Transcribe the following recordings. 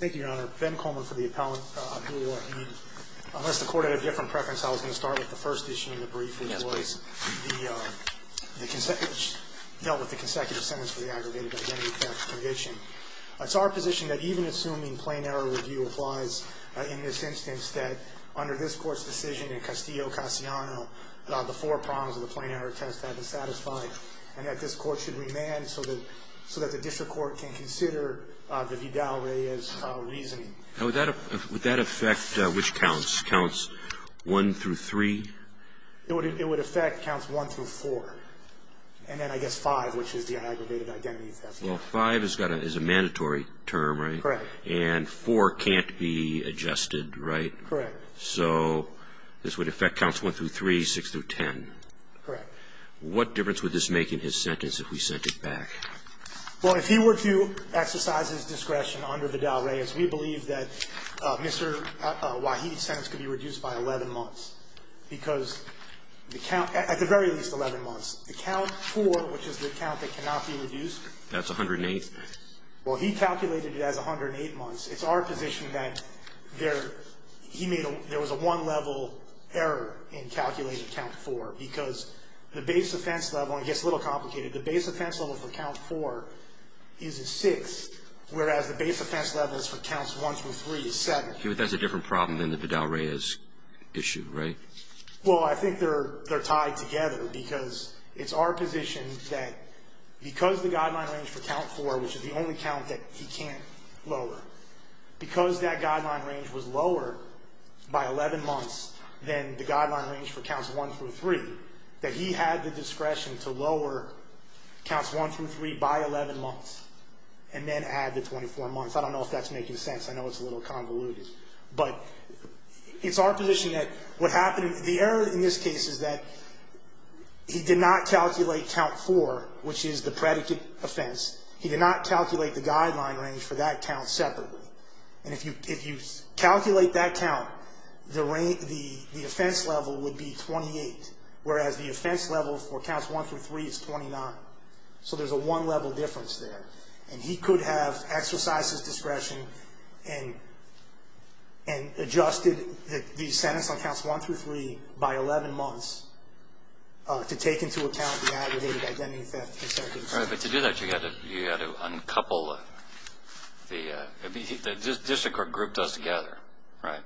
Thank you, your honor. Ben Coleman for the appellant, Abdul Wahid. Unless the court had a different preference, I was going to start with the first issue in the brief. Yes, please. Which dealt with the consecutive sentence for the aggregated identity theft conviction. It's our position that even assuming plain error review applies in this instance, that under this court's decision in Castillo-Casiano, the four prongs of the plain error test have been satisfied. And that this court should remand so that the district court can consider the Vidal-Reyes reasoning. Would that affect which counts? Counts 1 through 3? It would affect counts 1 through 4, and then I guess 5, which is the aggravated identity theft. Well, 5 is a mandatory term, right? Correct. And 4 can't be adjusted, right? Correct. So this would affect counts 1 through 3, 6 through 10. Correct. What difference would this make in his sentence if we sent it back? Well, if he were to exercise his discretion under the Vidal-Reyes, we believe that Mr. Wahid's sentence could be reduced by 11 months, because the count at the very least 11 months. The count 4, which is the count that cannot be reduced. That's 108. Well, he calculated it as 108 months. It's our position that there was a one-level error in calculating count 4, because the base offense level, and it gets a little complicated, the base offense level for count 4 is a 6, whereas the base offense level for counts 1 through 3 is 7. But that's a different problem than the Vidal-Reyes issue, right? Well, I think they're tied together, because it's our position that because the guideline range for count 4, which is the only count that he can't lower, because that guideline range was lower by 11 months than the guideline range for counts 1 through 3, that he had the discretion to lower counts 1 through 3 by 11 months and then add the 24 months. I don't know if that's making sense. I know it's a little convoluted. But it's our position that what happened, the error in this case is that he did not calculate count 4, which is the predicate offense. He did not calculate the guideline range for that count separately. And if you calculate that count, the offense level would be 28, whereas the offense level for counts 1 through 3 is 29. So there's a one-level difference there. And he could have exercised his discretion and adjusted the sentence on counts 1 through 3 by 11 months to take into account the aggregated identity theft. All right. But to do that, you've got to uncouple the district or group does together, right?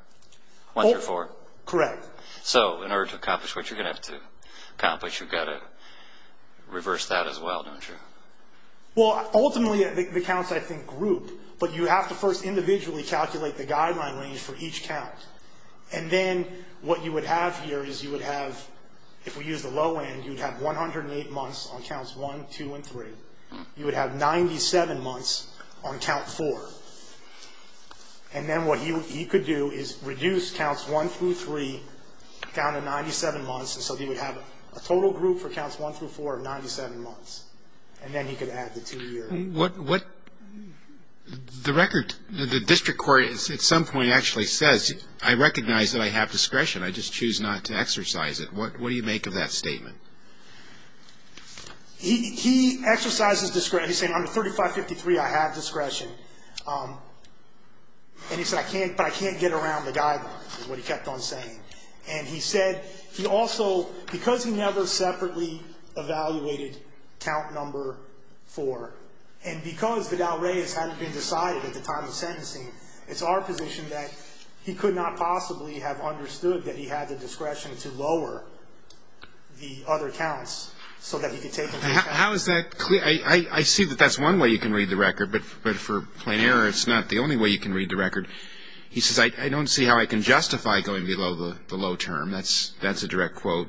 Once or four? Correct. So in order to accomplish what you're going to have to accomplish, you've got to reverse that as well, don't you? Well, ultimately, the counts, I think, group. But you have to first individually calculate the guideline range for each count. And then what you would have here is you would have, if we use the low end, you would have 108 months on counts 1, 2, and 3. You would have 97 months on count 4. And then what he could do is reduce counts 1 through 3 down to 97 months. And so he would have a total group for counts 1 through 4 of 97 months. And then he could add the two-year. What the record, the district court at some point actually says, I recognize that I have discretion. I just choose not to exercise it. What do you make of that statement? He exercises discretion. He's saying under 3553, I have discretion. And he said, but I can't get around the guidelines is what he kept on saying. And he said he also, because he never separately evaluated count number 4, and because Vidal Reyes hadn't been decided at the time of sentencing, it's our position that he could not possibly have understood that he had the discretion to lower the other counts so that he could take them. How is that clear? I see that that's one way you can read the record. But for plain error, it's not the only way you can read the record. He says, I don't see how I can justify going below the low term. That's a direct quote.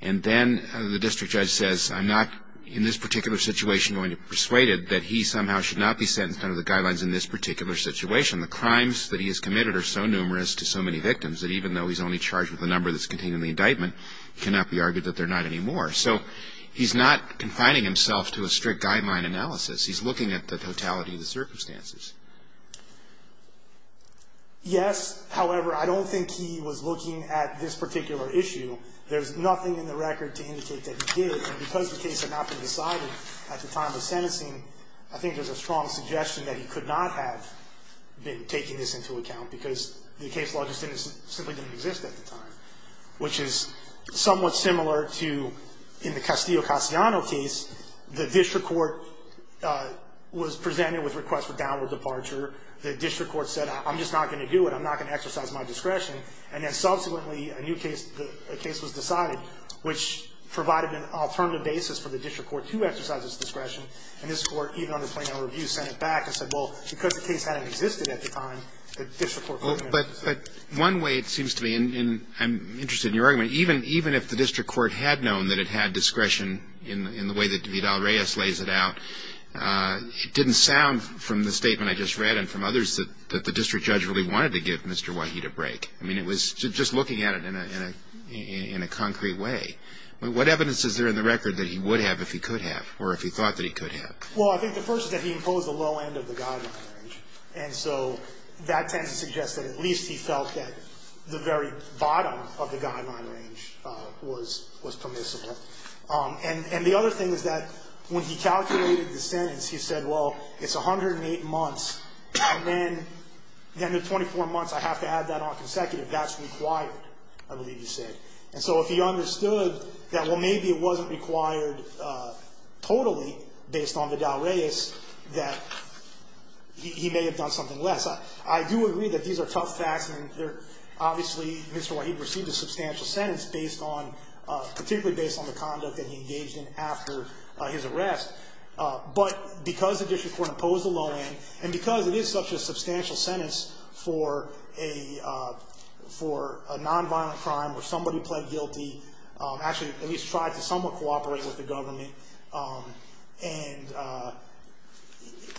And then the district judge says, I'm not in this particular situation going to persuade it that he somehow should not be sentenced under the guidelines in this particular situation. The crimes that he has committed are so numerous to so many victims that even though he's only charged with the number that's contained in the indictment, he cannot be argued that they're not anymore. So he's not confining himself to a strict guideline analysis. He's looking at the totality of the circumstances. Yes. However, I don't think he was looking at this particular issue. There's nothing in the record to indicate that he did. And because the case had not been decided at the time of sentencing, I think there's a strong suggestion that he could not have been taking this into account because the case law just simply didn't exist at the time, which is somewhat similar to in the Castillo-Castellano case. The district court was presented with requests for downward departure. The district court said, I'm just not going to do it. I'm not going to exercise my discretion. And then subsequently, a new case, a case was decided, which provided an alternative basis for the district court to exercise its discretion. And this court, even on the 20-hour review, sent it back and said, well, because the case hadn't existed at the time, the district court couldn't have done it. But one way it seems to me, and I'm interested in your argument, even if the district court had known that it had discretion in the way that Vidal-Reyes lays it out, it didn't sound from the statement I just read and from others that the district judge really wanted to give Mr. Waheed a break. I mean, it was just looking at it in a concrete way. What evidence is there in the record that he would have if he could have or if he thought that he could have? Well, I think the first is that he imposed a low end of the guideline range. And so that tends to suggest that at least he felt that the very bottom of the guideline range was permissible. And the other thing is that when he calculated the sentence, he said, well, it's 108 months, and then the 24 months, I have to add that on consecutive, that's required, I believe he said. And so if he understood that, well, maybe it wasn't required totally based on Vidal-Reyes, that he may have done something less. I do agree that these are tough facts, and obviously Mr. Waheed received a substantial sentence based on, particularly based on the conduct that he engaged in after his arrest. But because the district court imposed a low end and because it is such a substantial sentence for a nonviolent crime where somebody pled guilty, actually at least tried to somewhat cooperate with the government,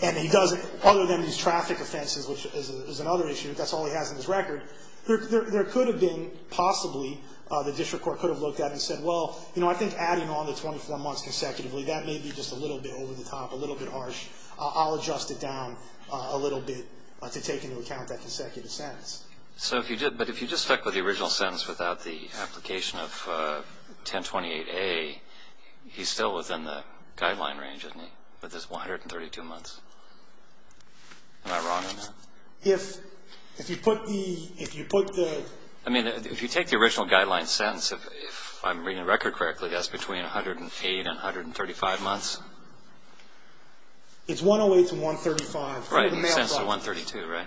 and he doesn't, other than these traffic offenses, which is another issue, that's all he has in his record, there could have been possibly, the district court could have looked at it and said, well, you know, I think adding on the 24 months consecutively, that may be just a little bit over the top, a little bit harsh. I'll adjust it down a little bit to take into account that consecutive sentence. So if you did, but if you just stuck with the original sentence without the application of 1028A, he's still within the guideline range, isn't he, with his 132 months? Am I wrong on that? If you put the, if you put the... It's 108 to 135... Right, and the sentence is 132, right?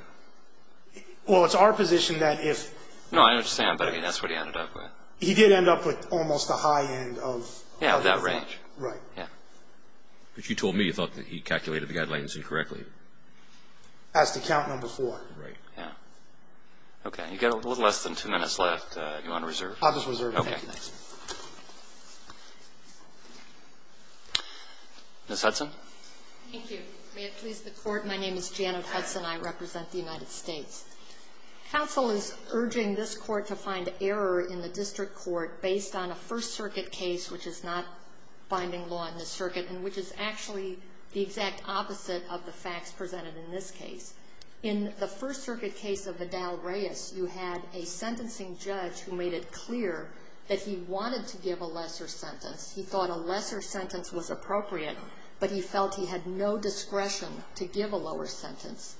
Well, it's our position that if... No, I understand, but, I mean, that's what he ended up with. He did end up with almost the high end of... Yeah, of that range. Right. Yeah. But you told me you thought that he calculated the guidelines incorrectly. As to count number four. Right, yeah. Okay, you've got a little less than two minutes left. Do you want to reserve? I'll just reserve it. Okay. Thank you. Ms. Hudson. Thank you. May it please the Court, my name is Janet Hudson. I represent the United States. Counsel is urging this Court to find error in the district court based on a First Circuit case, which is not binding law in this circuit, and which is actually the exact opposite of the facts presented in this case. In the First Circuit case of Vidal-Reyes, you had a sentencing judge who made it clear that he wanted to give a lesser sentence. He thought a lesser sentence was appropriate, but he felt he had no discretion to give a lower sentence.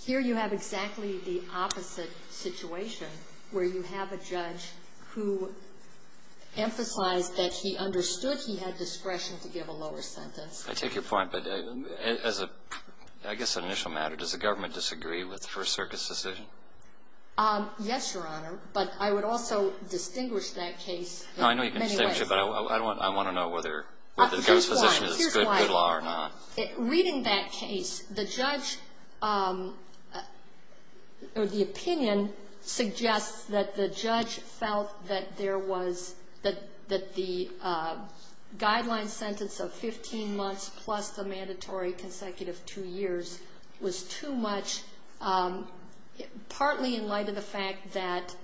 Here you have exactly the opposite situation, where you have a judge who emphasized that he understood he had discretion to give a lower sentence. I take your point. But as a, I guess an initial matter, does the government disagree with the First Circuit's decision? Yes, Your Honor. But I would also distinguish that case in many ways. No, I know you can distinguish it, but I want to know whether the judge's position is good law or not. Here's why. Reading that case, the judge, or the opinion, suggests that the judge felt that there was, that the guideline sentence of 15 months plus the mandatory consecutive two years was too much, partly in light of the fact that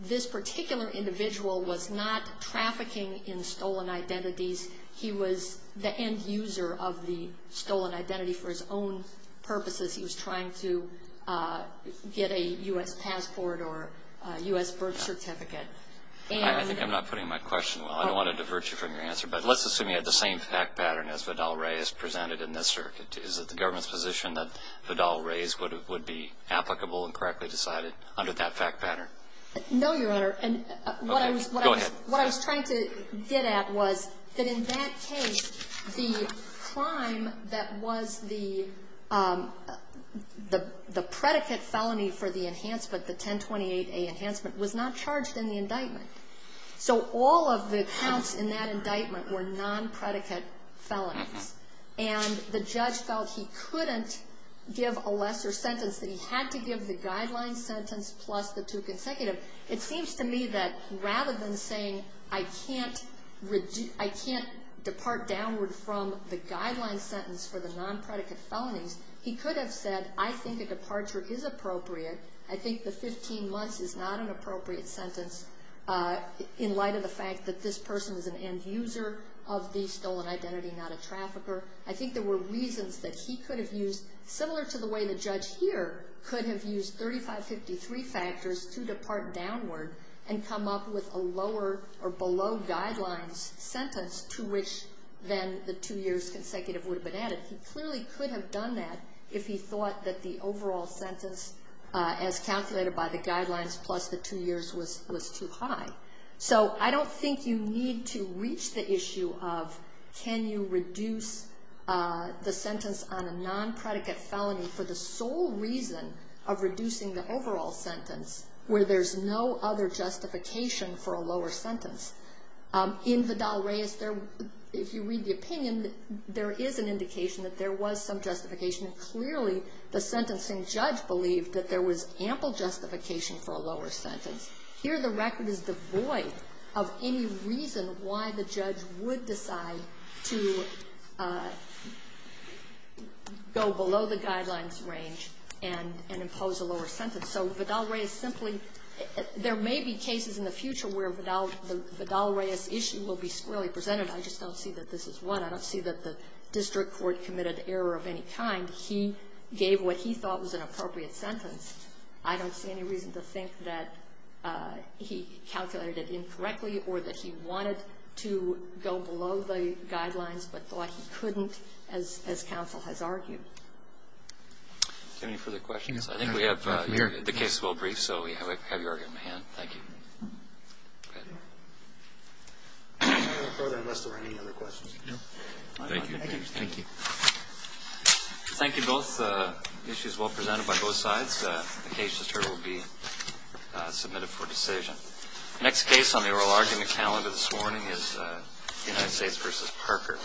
this particular individual was not trafficking in stolen identities. He was the end user of the stolen identity for his own purposes. He was trying to get a U.S. passport or a U.S. birth certificate. I think I'm not putting my question well. I don't want to divert you from your answer. But let's assume you had the same fact pattern as Vidal-Reyes presented in this circuit. Is it the government's position that Vidal-Reyes would be applicable and correctly decided under that fact pattern? No, Your Honor. Okay. Go ahead. What I was trying to get at was that in that case, the crime that was the predicate felony for the enhancement, the 1028A enhancement, was not charged in the indictment. So all of the counts in that indictment were nonpredicate felonies. And the judge felt he couldn't give a lesser sentence, that he had to give the guideline sentence plus the two consecutive. It seems to me that rather than saying, I can't depart downward from the guideline sentence for the nonpredicate felonies, he could have said, I think a departure is appropriate. I think the 15 months is not an appropriate sentence in light of the fact that this person is an end user of the stolen identity, not a trafficker. I think there were reasons that he could have used, similar to the way the judge here could have used 3553 factors to depart downward and come up with a lower or below guidelines sentence to which then the two years consecutive would have been added. He clearly could have done that if he thought that the overall sentence as calculated by the guidelines plus the two years was too high. So I don't think you need to reach the issue of can you reduce the sentence on a nonpredicate felony for the sole reason of reducing the overall sentence where there's no other justification for a lower sentence. In Vidal-Reyes, if you read the opinion, there is an indication that there was some justification. Clearly, the sentencing judge believed that there was ample justification for a lower sentence. Here, the record is devoid of any reason why the judge would decide to go below the guidelines range and impose a lower sentence. So Vidal-Reyes simply — there may be cases in the future where the Vidal-Reyes issue will be squarely presented. I just don't see that this is one. I don't see that the district court committed error of any kind. He gave what he thought was an appropriate sentence. I don't see any reason to think that he calculated it incorrectly or that he wanted to go below the guidelines but thought he couldn't, as counsel has argued. Do you have any further questions? I think we have the case well briefed, so we have your argument at hand. Thank you. Thank you. Thank you, both issues well presented by both sides. The case, as heard, will be submitted for decision. The next case on the oral argument calendar this morning is United States v. Parker.